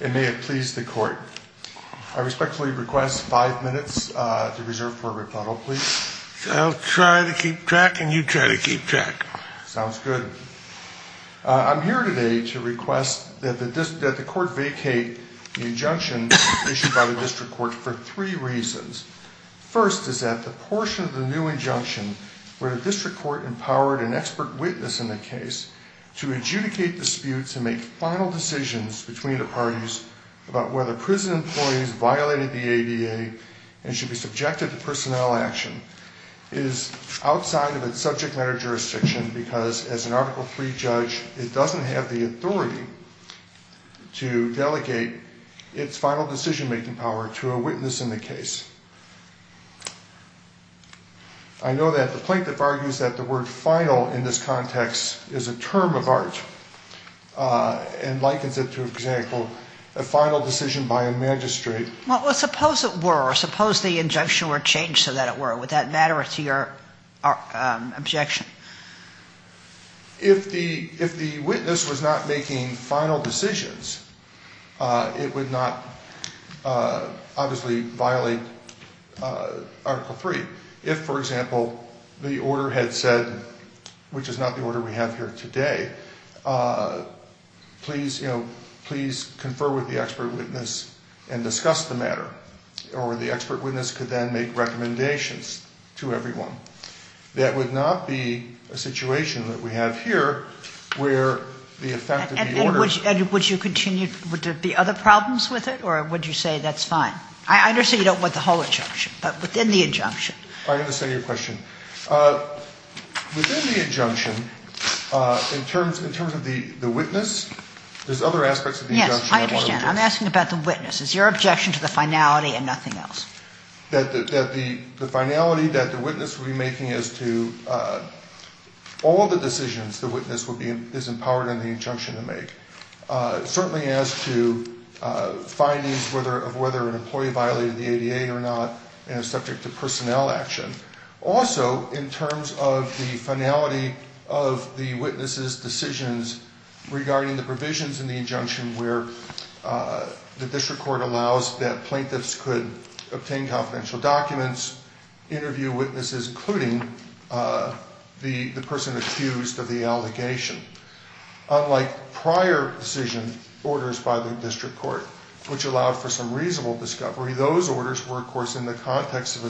And may it please the court, I respectfully request five minutes to reserve for a rebuttal, please. I'll try to keep track and you try to keep track. Sounds good. I'm here today to request that the court vacate the injunction issued by the district court for three reasons. First is that the portion of the new injunction where the district court empowered an expert witness in the case to adjudicate disputes and make final decisions between the parties about whether prison employees violated the ADA and should be subjected to personnel action is outside of its subject matter jurisdiction because as an article three judge it doesn't have the authority to delegate its final decision-making power to a witness in the case. I know that the plaintiff argues that the word final in this context is a term of art and likens it to, for example, a final decision by a magistrate. Well, suppose it were, suppose the injunction were changed so that it were, would that matter to your objection? If the witness was not making final decisions, it would not obviously violate article three. If, for example, the order had said, which is not the order we have here today, please, you know, please confer with the expert witness and discuss the matter or the expert witness could then make recommendations to everyone. That would not be a situation that we have here where the effect of the order... And would you continue, would there be other problems with it or would you say that's fine? I understand you don't want the whole injunction, but within the injunction... I understand your question. Within the injunction, in terms of the witness, there's other aspects of the injunction... Yes, I understand. I'm asking about the witness. Is your objection to the finality and nothing else? That the finality that the witness would be making as to all the decisions the witness is empowered in the injunction to make, certainly as to findings of whether an employee violated the ADA or not, subject to personnel action. Also, in terms of the finality of the witness's decisions regarding the provisions in the injunction where the district court allows that plaintiffs could obtain confidential documents, interview witnesses, including the person accused of the allegation. Unlike prior decision orders by the district court, which allowed for some a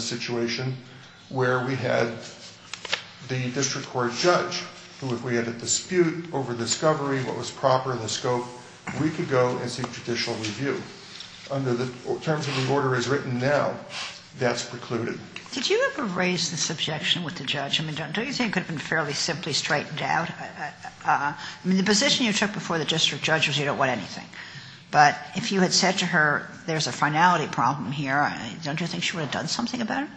situation where we had the district court judge, who if we had a dispute over discovery, what was proper, the scope, we could go and seek judicial review. Under the terms of the order as written now, that's precluded. Did you ever raise this objection with the judge? Don't you think it could have been fairly simply straightened out? The position you took before the district judge was you don't want anything. But if you had said to her, there's a finality problem here, don't you think she would have done something about it?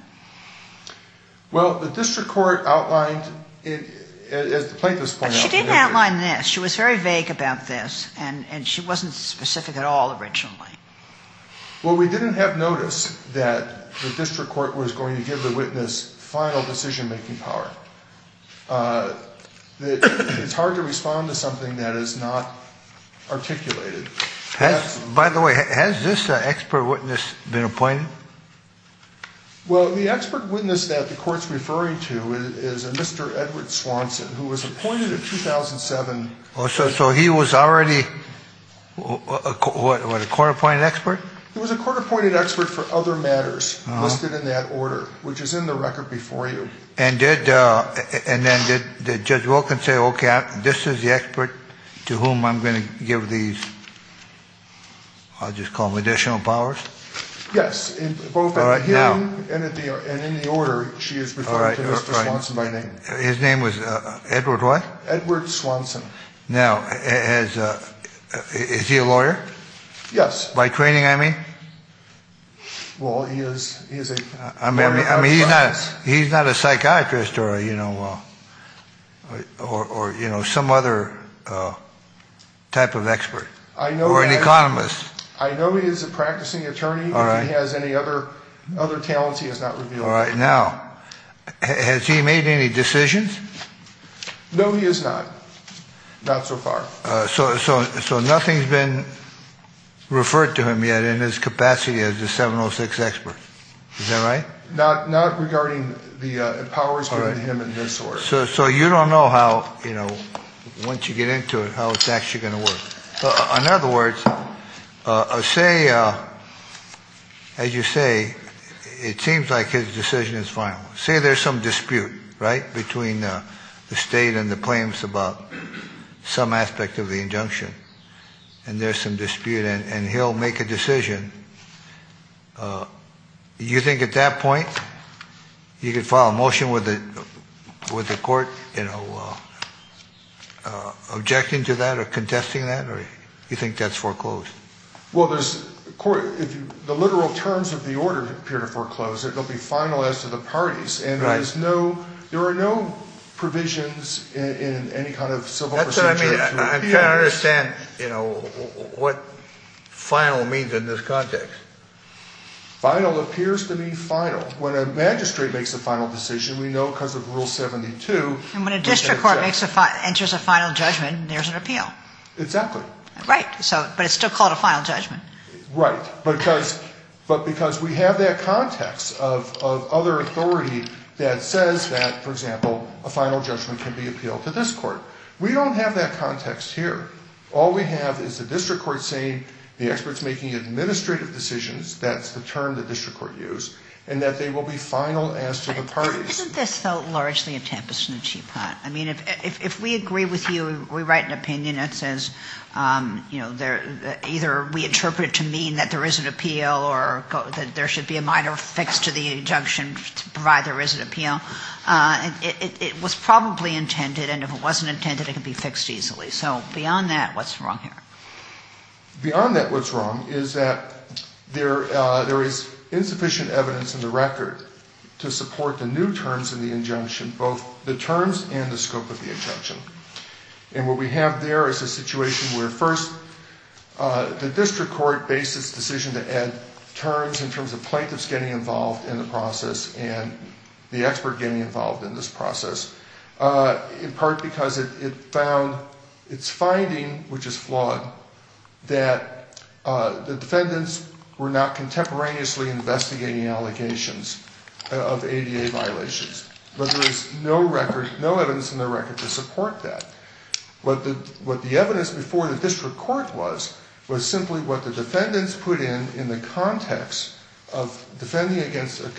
Well, the district court outlined, as the plaintiffs pointed out... She didn't outline this. She was very vague about this, and she wasn't specific at all originally. Well, we didn't have notice that the district court was going to give the witness final decision-making power. It's hard to respond to something that is not articulated. By the way, has this expert witness been appointed? Well, the expert witness that the court's referring to is a Mr. Edward Swanson, who was appointed in 2007. So he was already a court-appointed expert? He was a court-appointed expert for other matters listed in that order, which is in the record before you. And then did to whom I'm going to give these, I'll just call them additional powers? Yes. Both in the hearing and in the order, she is referring to Mr. Swanson by name. His name was Edward what? Edward Swanson. Now, is he a lawyer? Yes. By training, I mean? Well, he is a... I mean, he's not a psychiatrist or some other type of expert? Or an economist? I know he is a practicing attorney. If he has any other talents, he has not revealed. All right. Now, has he made any decisions? No, he has not. Not so far. So nothing's been referred to him yet in his capacity as a 706 expert. Is that right? Not regarding the powers given to him in this order. So you don't know how, you know, once you get into it, how it's actually going to work. In other words, say, as you say, it seems like his decision is final. Say there's some dispute, right, between the claims about some aspect of the injunction, and there's some dispute, and he'll make a decision. You think at that point, you could file a motion with the court, you know, objecting to that or contesting that? Or you think that's foreclosed? Well, there's... the literal terms of the order appear to foreclose. It'll be final as to the provisions in any kind of civil procedure. That's what I mean. I'm trying to understand, you know, what final means in this context. Final appears to mean final. When a magistrate makes a final decision, we know because of Rule 72... And when a district court enters a final judgment, there's an appeal. Exactly. Right. But it's still called a final judgment. Right. But because we have that context of other authority that says that, for example, a final judgment can be appealed to this court. We don't have that context here. All we have is the district court saying the expert's making administrative decisions, that's the term the district court used, and that they will be final as to the parties. Isn't this, though, largely a tempest in a teapot? I mean, if we agree with you, we write an opinion that says, you know, either we interpret it to mean that there is an appeal or that there should be a minor fix to the it was probably intended, and if it wasn't intended, it could be fixed easily. So beyond that, what's wrong here? Beyond that, what's wrong is that there is insufficient evidence in the record to support the new terms in the injunction, both the terms and the scope of the injunction. And what we have there is a situation where first the district court based its decision to add terms in terms of plaintiffs getting involved in the process and the expert getting involved in this process, in part because it found its finding, which is flawed, that the defendants were not contemporaneously investigating allegations of ADA violations. But there is no record, no evidence in the record to support that. What the evidence before the district court was was simply what the defendants put in in the context of defending against a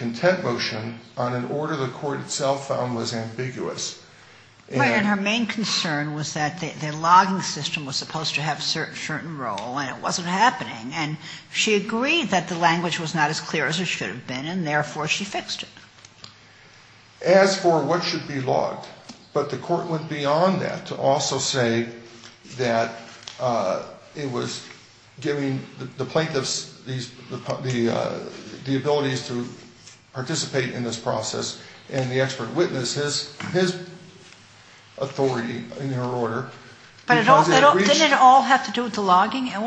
was ambiguous. Right. And her main concern was that the logging system was supposed to have a certain role, and it wasn't happening. And she agreed that the language was not as clear as it should have been, and therefore she fixed it. As for what should be logged, but the court went beyond that to also say that it was giving the defendants the ability to participate in this process and the expert witness his authority in their order. But didn't it all have to do with the logging? It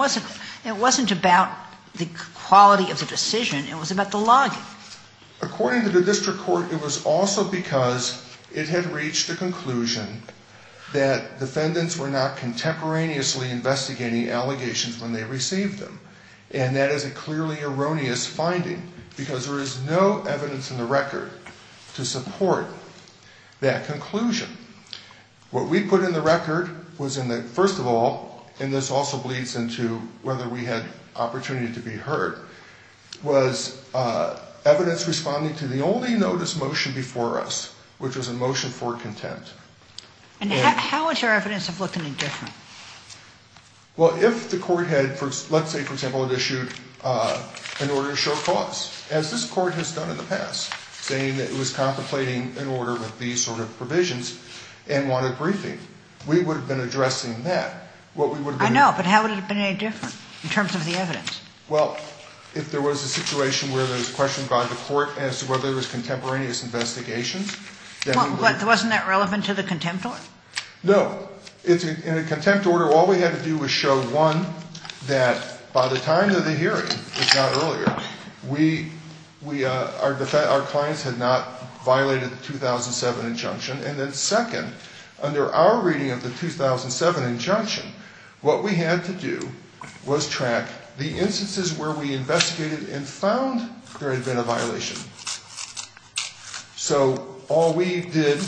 wasn't about the quality of the decision. It was about the logging. According to the district court, it was also because it had reached the conclusion that defendants were not contemporaneously investigating allegations when they received them. And that is a clearly erroneous finding because there is no evidence in the record to support that conclusion. What we put in the record was in the first of all, and this also bleeds into whether we had opportunity to be heard, was evidence responding to the only notice motion before us, which was a motion for contempt. And how would your evidence have looked any different? Well, if the court had, let's say, for example, had issued an order to show cause, as this court has done in the past, saying that it was contemplating an order with these sort of provisions and wanted a briefing, we would have been addressing that. What we would have been doing. I know, but how would it have been any different in terms of the evidence? Well, if there was a situation where there was a question brought to court as to whether there was contemporaneous investigations, then we would have. Wasn't that relevant to the contempt order? No, it's in a contempt order. All we had to do was show one, that by the time of the hearing, if not earlier, we, our clients had not violated the 2007 injunction. And then second, under our reading of the 2007 injunction, what we had to do was track the instances where we investigated and found there had been a violation. So all we did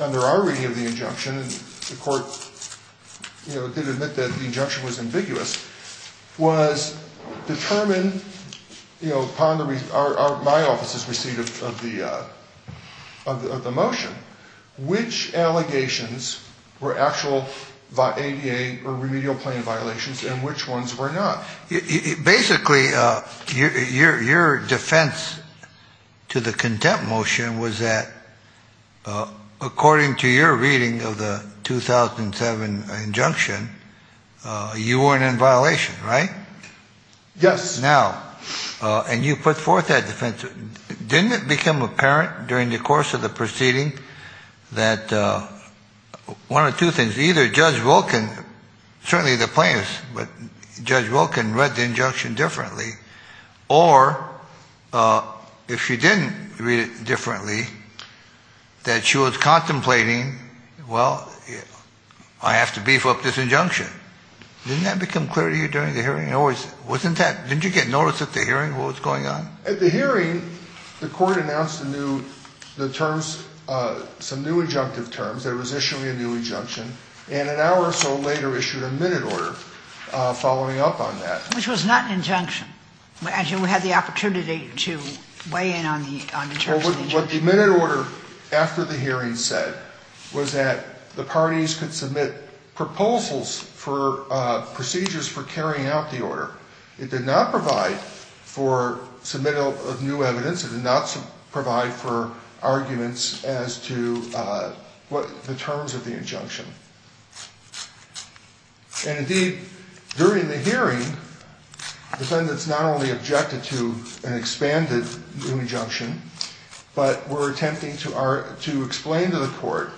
under our reading of the injunction, and the court, you know, did admit that the injunction was ambiguous, was determine, you know, upon my office's receipt of the motion, which allegations were actual ADA or remedial plan violations and which ones were not. Basically, your defense to the contempt motion was that, according to your reading of the 2007 injunction, you weren't in violation, right? Yes. Now, and you put forth that defense. Didn't it become apparent during the course of the proceeding that one of two things, either Judge Wilkin, certainly the plaintiffs, but Judge Wilkin read the injunction differently, or if she didn't read it differently, that she was contemplating, well, I have to beef up this injunction. Didn't that become clear to you during the hearing? It always, wasn't that, didn't you get notice at the hearing what was going on? At the hearing, the court announced a new, the terms, some new injunctive terms. There was issuing a new injunction. And an hour or so later issued a minute order following up on that. Which was not an injunction. As you had the opportunity to weigh in on the terms of the injunction. What the minute order after the hearing said was that the parties could submit proposals for procedures for carrying out the order. It did not provide for submittal of new evidence. It did not provide for arguments as to what the terms of the injunction. And indeed, during the hearing, defendants not only objected to an expanded new injunction, but were attempting to explain to the court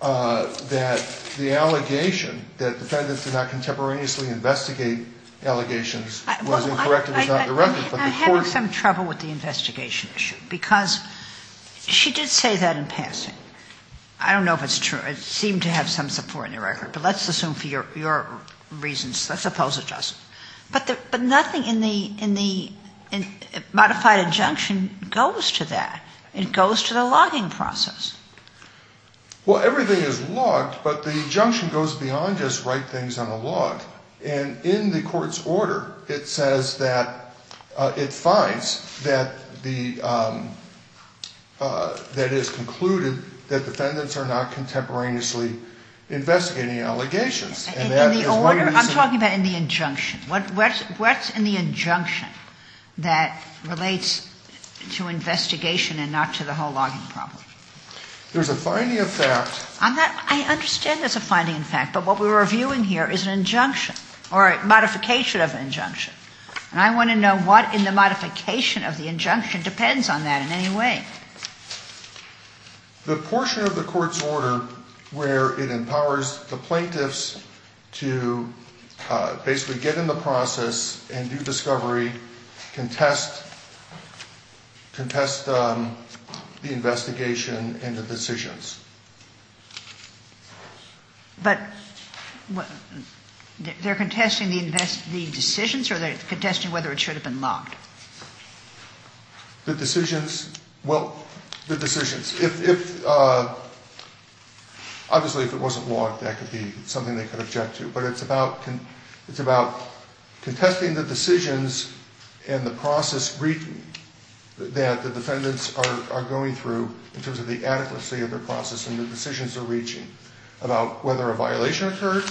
that the allegation that defendants did not contemporaneously investigate allegations was incorrect and was not directed. I'm having some trouble with the investigation issue. Because she did say that in passing. I don't know if it's true. It seemed to have some support in the record. But let's assume for your reasons. Let's oppose it, Justice. But nothing in the modified injunction goes to that. It goes to the logging process. Well, everything is logged. But the injunction goes beyond just write things on a log. And in the court's order, it says that it finds that it is concluded that defendants are not contemporaneously investigating allegations. In the order? I'm talking about in the injunction. What's in the injunction that relates to investigation and not to the whole logging problem? There's a finding of fact. I understand there's a finding of fact. But what we're reviewing here is an injunction or a modification of an injunction. And I want to know what in the modification of the injunction depends on that in any way. The portion of the court's order where it empowers the plaintiffs to basically get in the process and do discovery can test the investigation into decisions. But they're contesting the decisions? Or they're contesting whether it should have been logged? The decisions? Well, the decisions. If, obviously, if it wasn't logged, that could be something they could object to. But it's about contesting the decisions and the process that the defendants are going through in terms of the adequacy of their process. And the decisions they're reaching about whether a violation occurred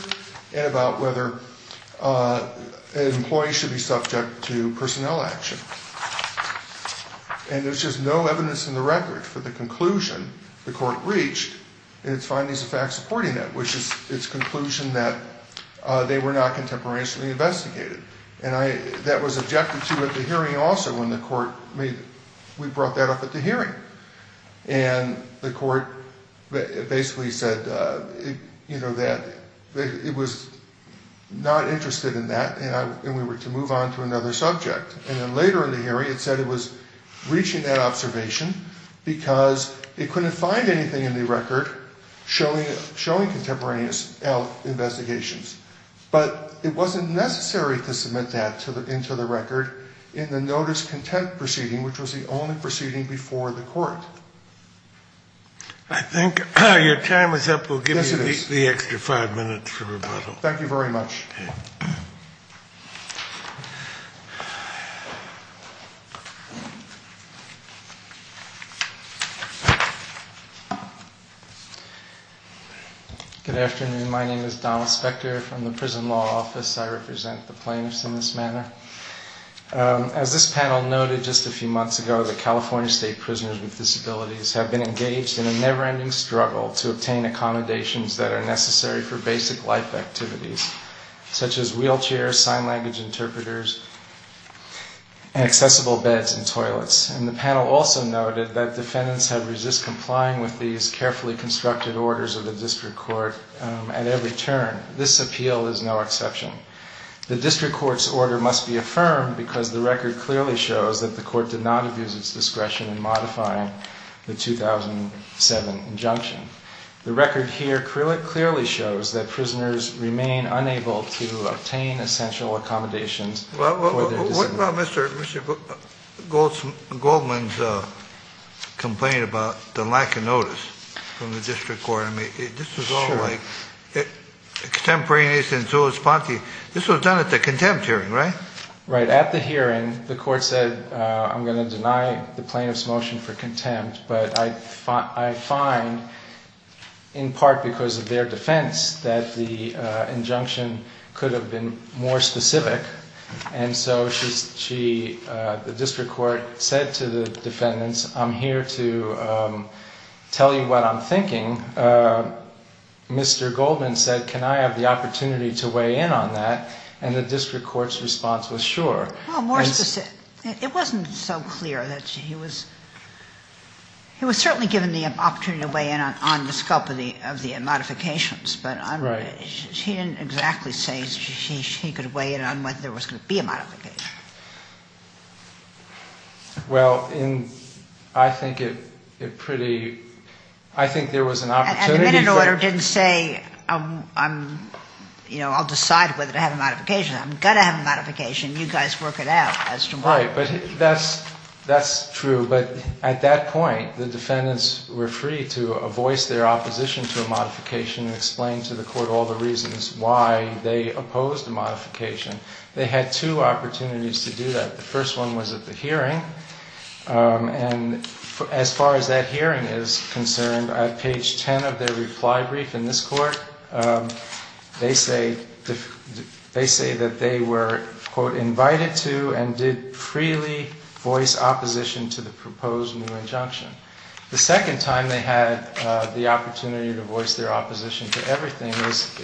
and about whether employees should be subject to personnel action. And there's just no evidence in the record for the conclusion the court reached in its findings of fact supporting that, which is its conclusion that they were not contemporaneously investigated. And that was objected to at the hearing also when the court made it. We brought that up at the hearing. And the court basically said that it was not interested in that and we were to move on to another subject. And then later in the hearing it said it was reaching that observation because it couldn't find anything in the record showing contemporaneous investigations. But it wasn't necessary to submit that into the record in the notice-content proceeding, which was the only proceeding before the court. I think your time is up. We'll give you the extra five minutes for rebuttal. Thank you very much. Good afternoon. My name is Donald Spector from the Prison Law Office. I represent the plaintiffs in this manner. As this panel noted just a few months ago, the California State Prisoners with Disabilities have been engaged in a never-ending struggle to obtain accommodations that are necessary for basic life activities, such as wheelchairs, sign-laggage interpreters, and accessible beds and toilets. And the panel also noted that defendants have resisted complying with these carefully constructed orders of the district court at every turn. This appeal is no exception. The district court's order must be affirmed because the record clearly shows that the court did not abuse its discretion in modifying the 2007 injunction. The record here clearly shows that prisoners remain unable to obtain essential accommodations for their disabilities. What about Mr. Goldman's complaint about the lack of notice from the district court? This was done at the contempt hearing, right? Right. At the hearing, the court said, I'm going to deny the plaintiff's motion for contempt. But I find, in part because of their defense, that the injunction could have been more specific. And so the district court said to the defendants, I'm here to tell you what I'm thinking. Mr. Goldman said, can I have the opportunity to weigh in on that? And the district court's response was, sure. Well, more specific. It wasn't so clear that he was certainly given the opportunity to weigh in on the scope of the modifications. But he didn't exactly say he could weigh in on whether there was going to be a modification. Well, I think it pretty, I think there was an opportunity for- And the minute order didn't say, I'll decide whether to have a modification. I'm going to have a modification. You guys work it out as to why. Right. But that's true. But at that point, the defendants were free to voice their opposition to a modification and explain to the court all the reasons why they opposed the modification. They had two opportunities to do that. The first one was at the hearing. And as far as that hearing is concerned, at page 10 of their reply brief in this court, they say that they were, quote, invited to and did freely voice opposition to the proposed new injunction. The second time they had the opportunity to voice their opposition to everything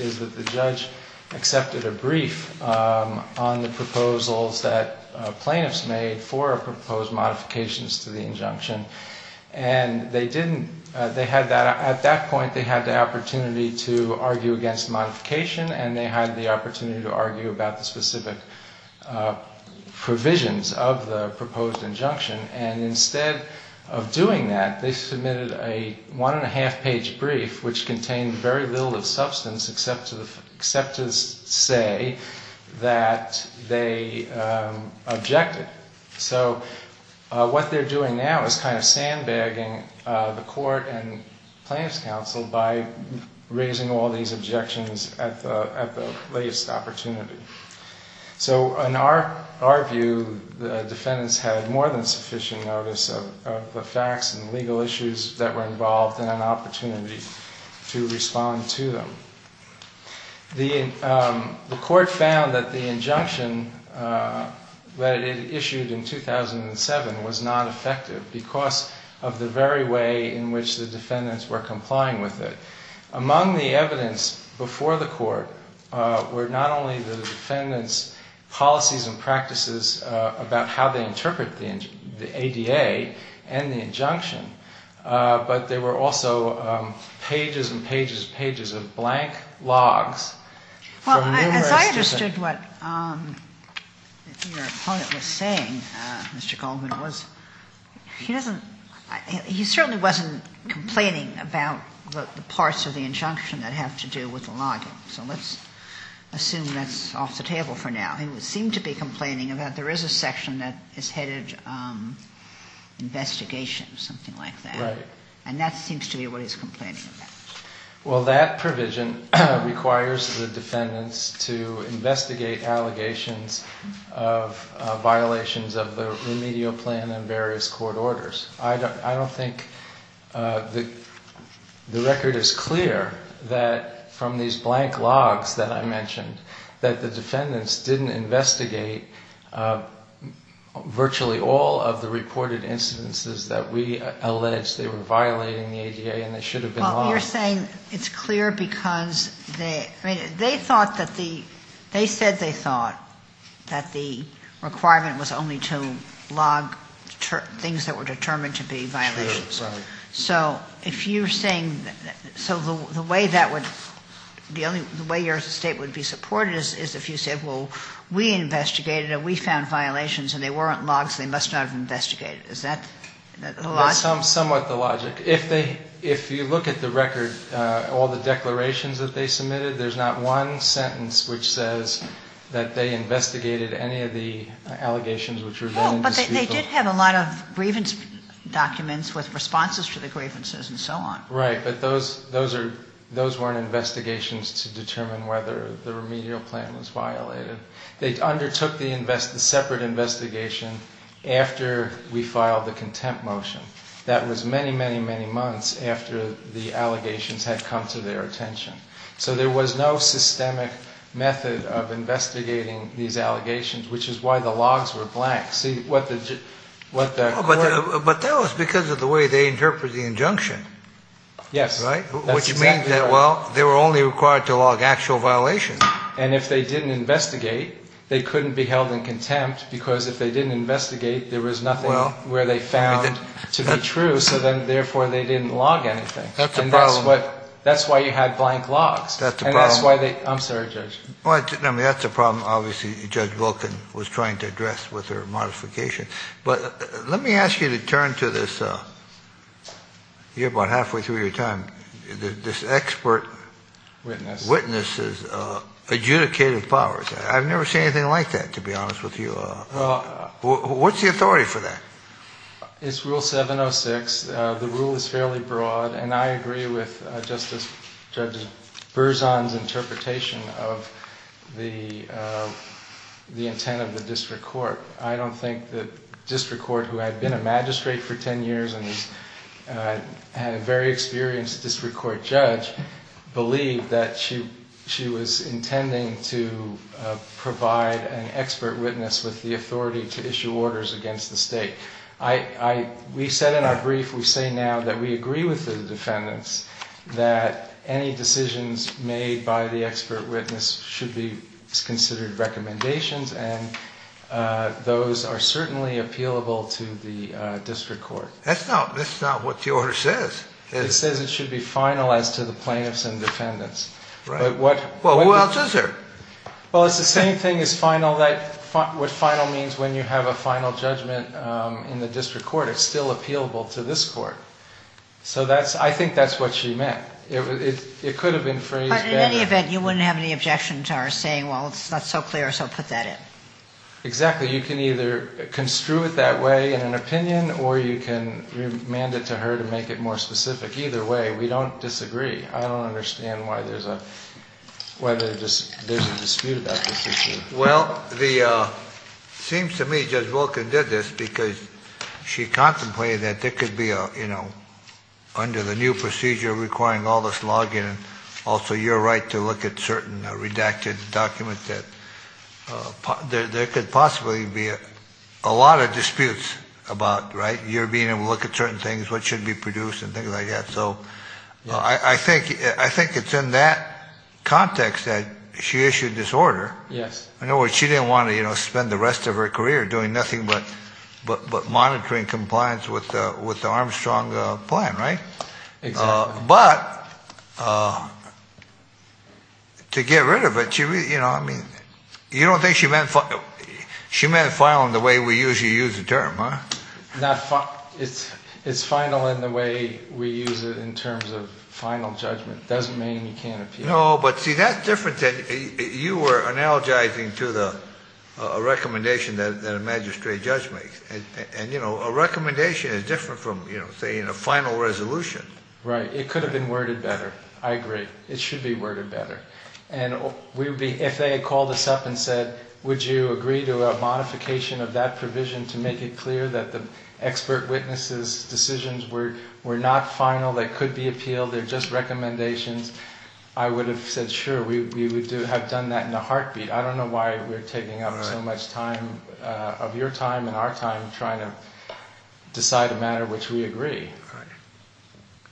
is that the judge accepted a brief on the proposals that plaintiffs made for proposed modifications to the injunction. And they didn't, they had that, at that point, they had the opportunity to argue against modification and they had the opportunity to argue about the specific provisions of the proposed injunction. And instead of doing that, they submitted a one and a half page brief, which contained very little of substance except to say that they objected. So what they're doing now is kind of sandbagging the court and plaintiff's counsel by raising all these objections at the latest opportunity. So in our view, the defendants had more than sufficient notice of the facts and legal issues that were involved than an opportunity to respond to them. The court found that the injunction that it issued in 2007 was not effective because of the very way in which the defendants were complying with it. Among the evidence before the court were not only the defendants' policies and practices about how they interpret the ADA and the injunction, but there were also pages and pages and pages of blank logs from numerous different- Well, as I understood what your opponent was saying, Mr. Goldman, was he doesn't he certainly wasn't complaining about the parts of the injunction that have to do with the logging. So let's assume that's off the table for now. He would seem to be complaining about there is a section that is headed investigation, something like that. Right. And that seems to be what he's complaining about. Well, that provision requires the defendants to investigate allegations of violations of the remedial plan and various court orders. I don't think the record is clear that from these blank logs that I mentioned that the defendants had to investigate virtually all of the reported incidences that we allege they were violating the ADA and they should have been logged. Well, you're saying it's clear because they thought that the, they said they thought that the requirement was only to log things that were determined to be violations. True, right. So if you're saying, so the way that would, the way your state would be supported is if you said, well, we investigated and we found violations and they weren't logs, they must not have investigated. Is that the logic? That's somewhat the logic. If they, if you look at the record, all the declarations that they submitted, there's not one sentence which says that they investigated any of the allegations which were then indisputable. Well, but they did have a lot of grievance documents with responses to the grievances and so on. Right. But those, those are, those weren't investigations to determine whether the remedial plan was violated. They undertook the invest, the separate investigation after we filed the contempt motion. That was many, many, many months after the allegations had come to their attention. So there was no systemic method of investigating these allegations, which is why the logs were blank. See what the, what the court. But that was because of the way they interpret the injunction. Yes. Right. Which means that, well, they were only required to log actual violations. And if they didn't investigate, they couldn't be held in contempt because if they didn't investigate, there was nothing where they found to be true. So then therefore they didn't log anything. That's the problem. That's why you had blank logs. That's the problem. And that's why they, I'm sorry, Judge. Well, I mean, that's a problem obviously Judge Volkin was trying to address with her modification. But let me ask you to turn to this. You're about halfway through your time. This expert. Witness. Witnesses, adjudicative powers. I've never seen anything like that, to be honest with you. What's the authority for that? It's rule 706. The rule is fairly broad. And I agree with Justice Judge Berzon's interpretation of the intent of the district court. I don't think that district court who had been a magistrate for 10 years and had a very experienced district court judge believed that she was intending to provide an expert witness with the authority to issue orders against the state. We said in our brief, we say now that we agree with the defendants that any decisions made by the expert witness should be considered recommendations. And those are certainly appealable to the district court. That's not what the order says. It says it should be finalized to the plaintiffs and defendants. Right. But what. Well, who else is there? Well, it's the same thing as final. That what final means when you have a final judgment in the district court, it's still appealable to this court. So that's, I think that's what she meant. It could have been phrased. But in any event, you wouldn't have any objection to our saying, well, it's not so clear, so put that in. Exactly. You can either construe it that way in an opinion, or you can remand it to her to make it more specific. Either way, we don't disagree. I don't understand why there's a dispute about this issue. Well, it seems to me Judge Wilkins did this because she contemplated that there could be, you know, under the new procedure requiring all this logging and also your right to look at certain redacted documents that there could possibly be a lot of disputes about, right? You're being able to look at certain things, what should be produced and things like that. So I think it's in that context that she issued this order. Yes. In other words, she didn't want to spend the rest of her career doing nothing but monitoring compliance with the Armstrong plan, right? Exactly. But to get rid of it, you know, I mean, you don't think she meant final in the way we usually use the term, huh? It's final in the way we use it in terms of final judgment. It doesn't mean you can't appeal. No, but see, that's different than you were analogizing to the recommendation that a magistrate judge makes and, you know, a recommendation is different from, you know, saying a final resolution. Right. It could have been worded better. I agree. It should be worded better. And if they had called us up and said, would you agree to a modification of that provision to make it clear that the expert witnesses' decisions were not final, they could be appealed, they're just recommendations, I would have said, sure, we would have done that in a heartbeat. I don't know why we're taking up so much time of your time and our time trying to decide a matter which we agree.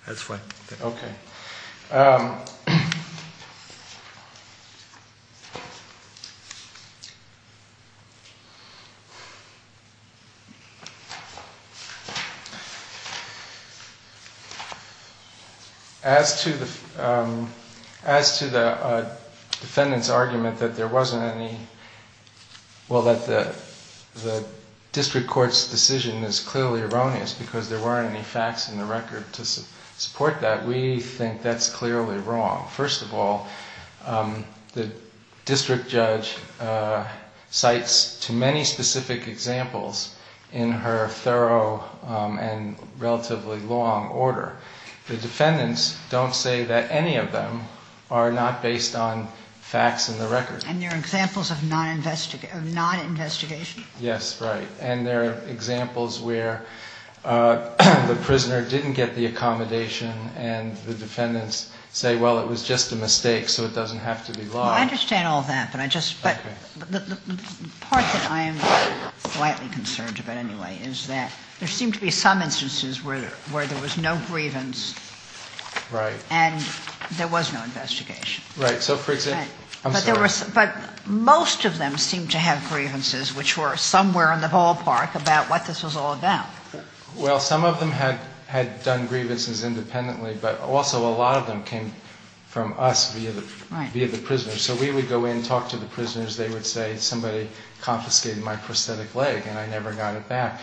That's fine. OK. As to the defendant's argument that there wasn't any, well, that the district court's decision is clearly erroneous because there weren't any facts in the record to support that, we think that's clearly wrong. First of all, the district judge cites too many specific examples in her thorough and relatively long order. The defendants don't say that any of them are not based on facts in the record. And they're examples of non-investigation? Yes, right. And they're examples where the prisoner didn't get the accommodation and the defendants say, well, it was just a mistake, so it doesn't have to be law. Well, I understand all that, but I just, but the part that I am slightly concerned about anyway is that there seem to be some instances where there was no grievance. Right. And there was no investigation. Right. So for example, I'm sorry. But most of them seem to have grievances which were somewhere in the ballpark about what this was all about. Well, some of them had done grievances independently, but also a lot of them came from us via the prisoners. So we would go in and talk to the prisoners. They would say somebody confiscated my prosthetic leg and I never got it back.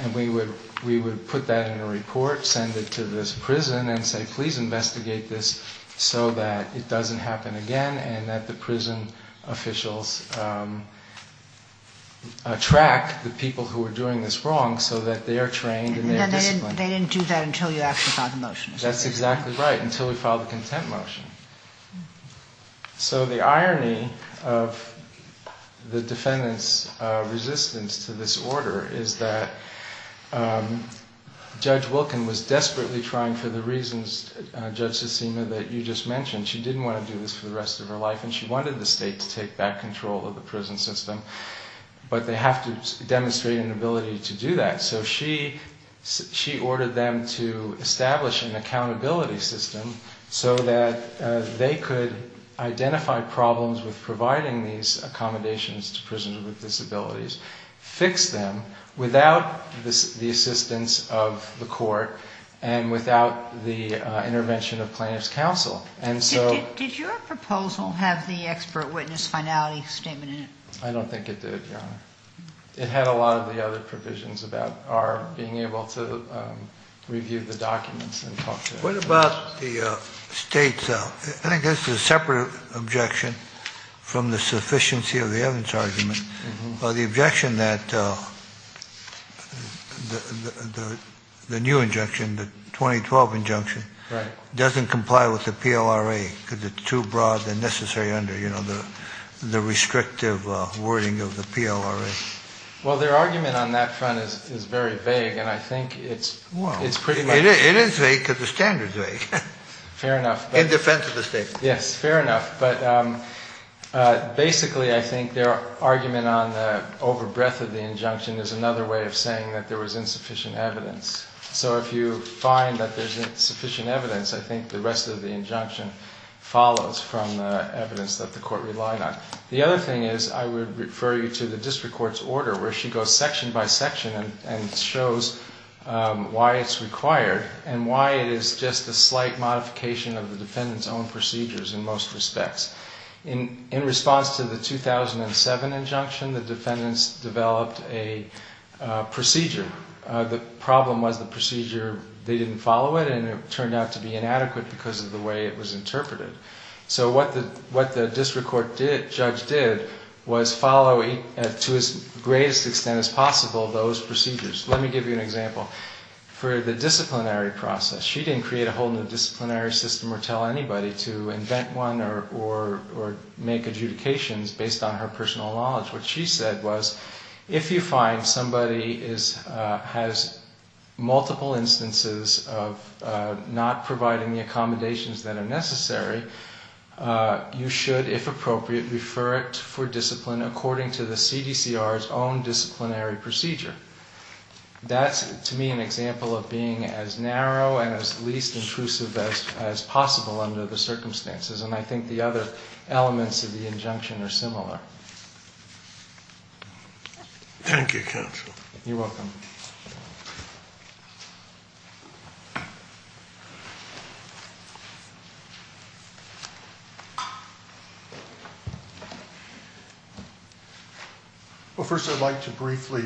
And we would put that in a report, send it to this prison and say, please investigate this so that it doesn't happen again and that the prison officials track the people who are doing this wrong so that they are trained and they are disciplined. They didn't do that until you actually filed the motion. That's exactly right, until we filed the content motion. So the irony of the defendant's resistance to this order is that Judge Wilkin was desperately trying for the reasons, Judge Sesema, that you just mentioned. She didn't want to do this for the rest of her life and she wanted the state to take back control of the prison system. But they have to demonstrate an ability to do that. So she ordered them to establish an accountability system so that they could identify problems with providing these accommodations to prisoners with disabilities, fix them without the assistance of the court, and without the intervention of plaintiff's counsel. And so... Did your proposal have the expert witness finality statement in it? I don't think it did, Your Honor. It had a lot of the other provisions about our being able to review the documents and talk to them. What about the state's? I think that's a separate objection from the sufficiency of the Evans argument. The objection that the new injunction, the 2012 injunction, doesn't comply with the PLRA because it's too broad and necessary under the restrictive wording of the PLRA. Well, their argument on that front is very vague and I think it's pretty much... It is vague because the standard is vague. Fair enough. In defense of the state. Yes, fair enough. But basically, I think their argument on the overbreadth of the injunction is another way of saying that there was insufficient evidence. So if you find that there's insufficient evidence, I think the rest of the injunction follows from the evidence that the court relied on. The other thing is I would refer you to the district court's order where she goes section by section and shows why it's required and why it is just a slight modification of the In response to the 2007 injunction, the defendants developed a procedure. The problem was the procedure, they didn't follow it and it turned out to be inadequate because of the way it was interpreted. So what the district court judge did was follow to its greatest extent as possible those procedures. Let me give you an example. For the disciplinary process, she didn't create a whole new disciplinary system or tell anybody to invent one or make adjudications based on her personal knowledge. What she said was if you find somebody has multiple instances of not providing the accommodations that are necessary, you should, if appropriate, refer it for discipline according to the CDCR's own disciplinary procedure. That's, to me, an example of being as narrow and as least intrusive as possible under the circumstances. And I think the other elements of the injunction are similar. You're welcome. Well, first, I'd like to briefly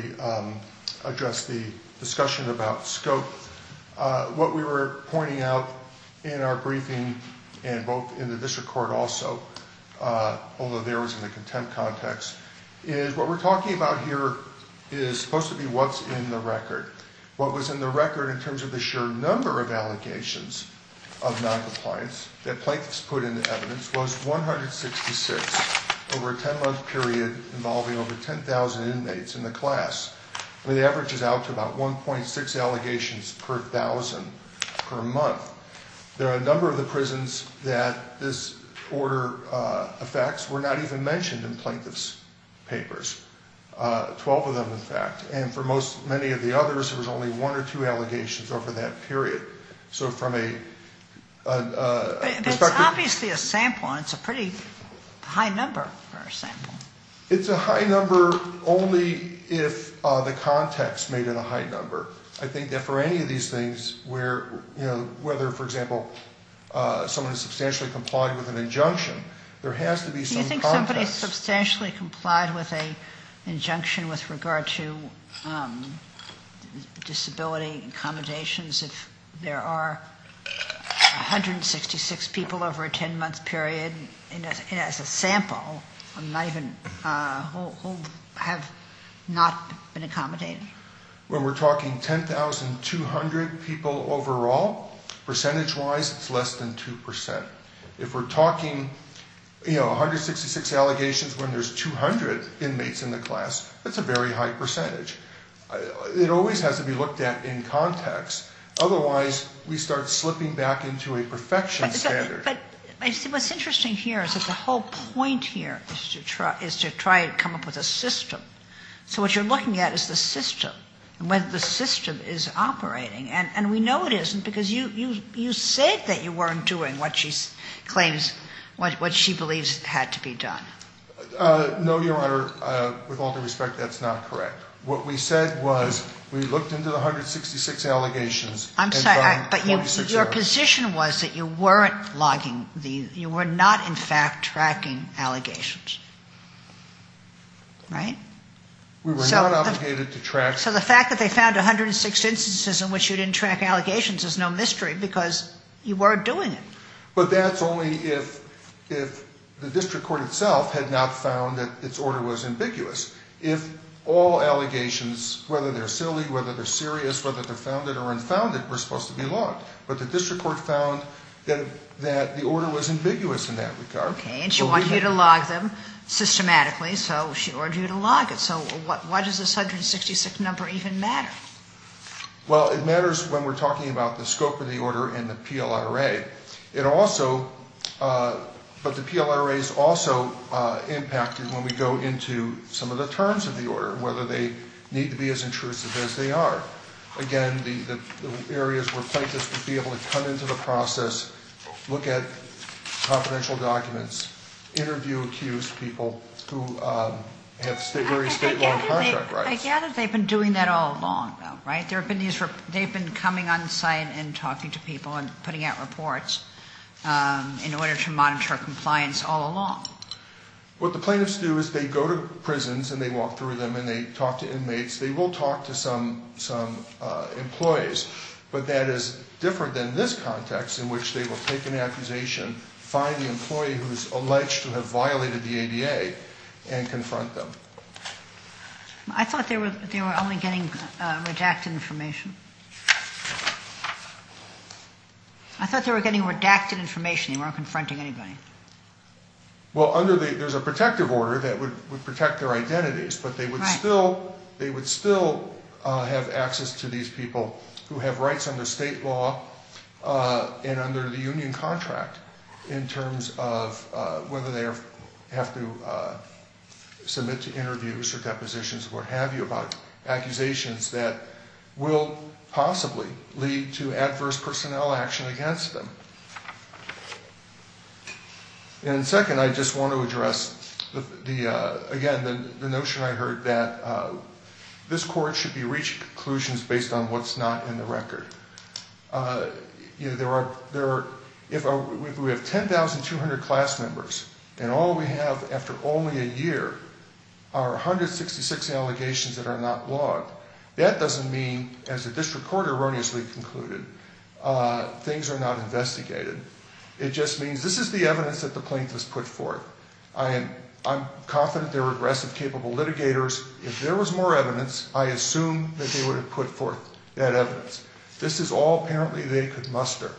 address the discussion about scope. What we were pointing out in our briefing and both in the district court also, although there was in the contempt context, is what we're talking about here is supposed to be what's in the record. What was in the record in terms of the sheer number of allegations of noncompliance that plaintiffs put into evidence was 166 over a 10-month period involving over 10,000 inmates in the class. The average is out to about 1.6 allegations per thousand per month. There are a number of the prisons that this order affects were not even mentioned in plaintiffs' papers, 12 of them, in fact. And for most, many of the others, there was only one or two allegations over that period. So from a perspective... But it's obviously a sample, and it's a pretty high number for a sample. It's a high number only if the context made it a high number. I think that for any of these things where, you know, whether, for example, someone substantially complied with an injunction, there has to be some context. Somebody substantially complied with an injunction with regard to disability accommodations. If there are 166 people over a 10-month period, as a sample, who have not been accommodated? When we're talking 10,200 people overall, percentage-wise, it's less than 2%. If we're talking, you know, 166 allegations when there's 200 inmates in the class, that's a very high percentage. It always has to be looked at in context. Otherwise, we start slipping back into a perfection standard. But I see what's interesting here is that the whole point here is to try and come up with a system. So what you're looking at is the system and whether the system is operating. And we know it isn't because you said that you weren't doing what she claims, what she believes had to be done. No, Your Honor. With all due respect, that's not correct. What we said was we looked into the 166 allegations. I'm sorry. But your position was that you weren't logging. You were not, in fact, tracking allegations. Right? We were not obligated to track. So the fact that they found 106 instances in which you didn't track allegations is no mystery because you weren't doing it. But that's only if the district court itself had not found that its order was ambiguous. If all allegations, whether they're silly, whether they're serious, whether they're founded or unfounded, were supposed to be logged. But the district court found that the order was ambiguous in that regard. Okay. And she wanted you to log them systematically. So she ordered you to log it. Why does this 166 number even matter? Well, it matters when we're talking about the scope of the order and the PLRA. But the PLRA is also impacted when we go into some of the terms of the order, whether they need to be as intrusive as they are. Again, the areas where plaintiffs would be able to come into the process, look at confidential documents, interview accused people who have very state-run contract rights. I gather they've been doing that all along, though, right? They've been coming on site and talking to people and putting out reports in order to monitor compliance all along. What the plaintiffs do is they go to prisons and they walk through them and they talk to inmates. They will talk to some employees. But that is different than this context in which they will take an accusation, find the employee who's alleged to have violated the ADA and confront them. I thought they were only getting redacted information. I thought they were getting redacted information. They weren't confronting anybody. Well, there's a protective order that would protect their identities, but they would still have access to these people who have rights under state law and under the union contract in terms of whether they have to submit to interviews or depositions or what have you about accusations that will possibly lead to adverse personnel action against them. And second, I just want to address, again, the notion I heard that this court should be reaching conclusions based on what's not in the record. If we have 10,200 class members and all we have after only a year are 166 allegations that are not logged, that doesn't mean, as the district court erroneously concluded, things are not investigated. It just means this is the evidence that the plaintiffs put forth. I'm confident they're regressive, capable litigators. If there was more evidence, I assume that they would have put forth that evidence. This is all apparently they could muster.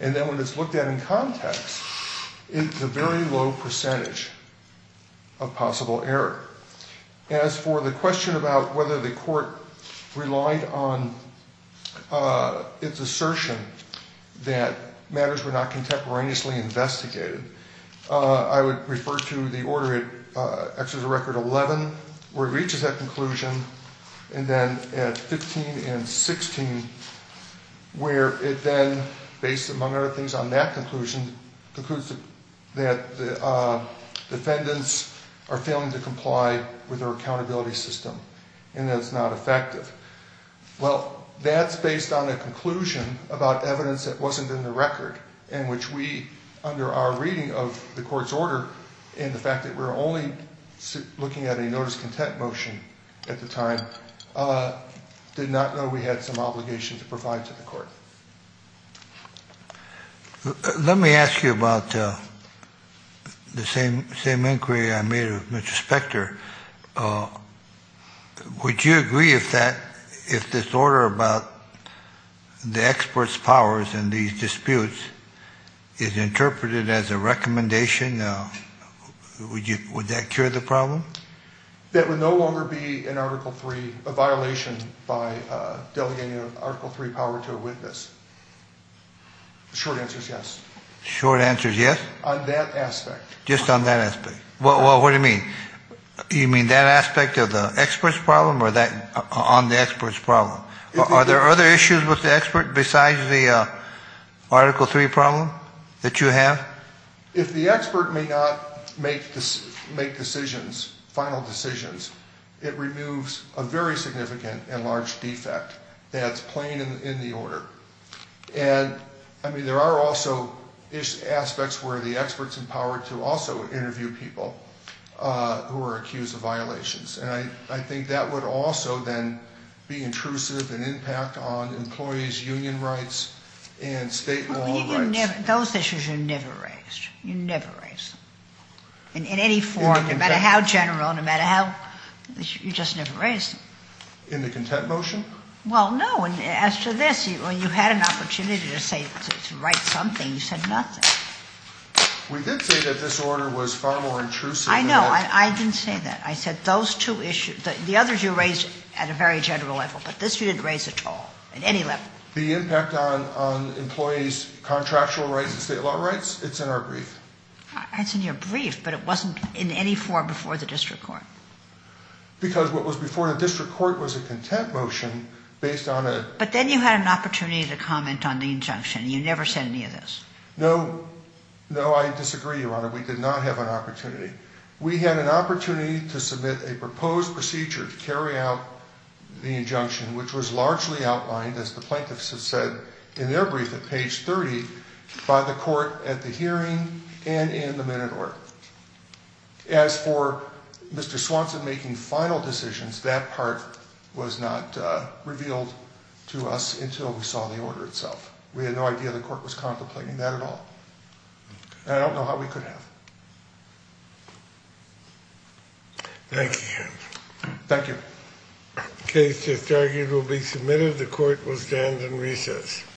And then when it's looked at in context, it's a very low percentage of possible error. As for the question about whether the court relied on its assertion that matters were not contemporaneously investigated, I would refer to the order, actually the record 11, where it reaches that conclusion, and then at 15 and 16, where it then, based among other on that conclusion, concludes that the defendants are failing to comply with their accountability system and that it's not effective. Well, that's based on a conclusion about evidence that wasn't in the record, in which we, under our reading of the court's order and the fact that we're only looking at a notice of contempt motion at the time, did not know we had some obligation to provide to the court. Let me ask you about the same inquiry I made with Mr. Spector. Would you agree if that, if this order about the expert's powers in these disputes is interpreted as a recommendation, would that cure the problem? That would no longer be, in Article III, a violation by delegating Article III power to a witness. Short answer is yes. Short answer is yes? On that aspect. Just on that aspect. Well, what do you mean? You mean that aspect of the expert's problem or that on the expert's problem? Are there other issues with the expert besides the Article III problem that you have? If the expert may not make decisions, final decisions, it removes a very significant and large defect that's plain in the order. And, I mean, there are also aspects where the expert's empowered to also interview people who are accused of violations. And I think that would also then be intrusive and impact on employees' union rights and state law rights. Those issues are never raised. You never raise them in any form, no matter how general, no matter how, you just never raise them. In the contempt motion? Well, no. As to this, when you had an opportunity to say, to write something, you said nothing. We did say that this order was far more intrusive. I know. I didn't say that. I said those two issues, the others you raised at a very general level, but this you didn't raise at all, at any level. The impact on employees' contractual rights and state law rights, it's in our brief. It's in your brief, but it wasn't in any form before the district court. Because what was before the district court was a contempt motion based on a- But then you had an opportunity to comment on the injunction. You never said any of this. No. No, I disagree, Your Honor. We did not have an opportunity. We had an opportunity to submit a proposed procedure to carry out the injunction, which was largely outlined, as the plaintiffs have said in their brief at page 30, by the court at the hearing and in the minute order. As for Mr. Swanson making final decisions, that part was not revealed to us until we saw the order itself. We had no idea the court was contemplating that at all. And I don't know how we could have. Thank you, Your Honor. Thank you. The case just argued will be submitted. The court will stand in recess.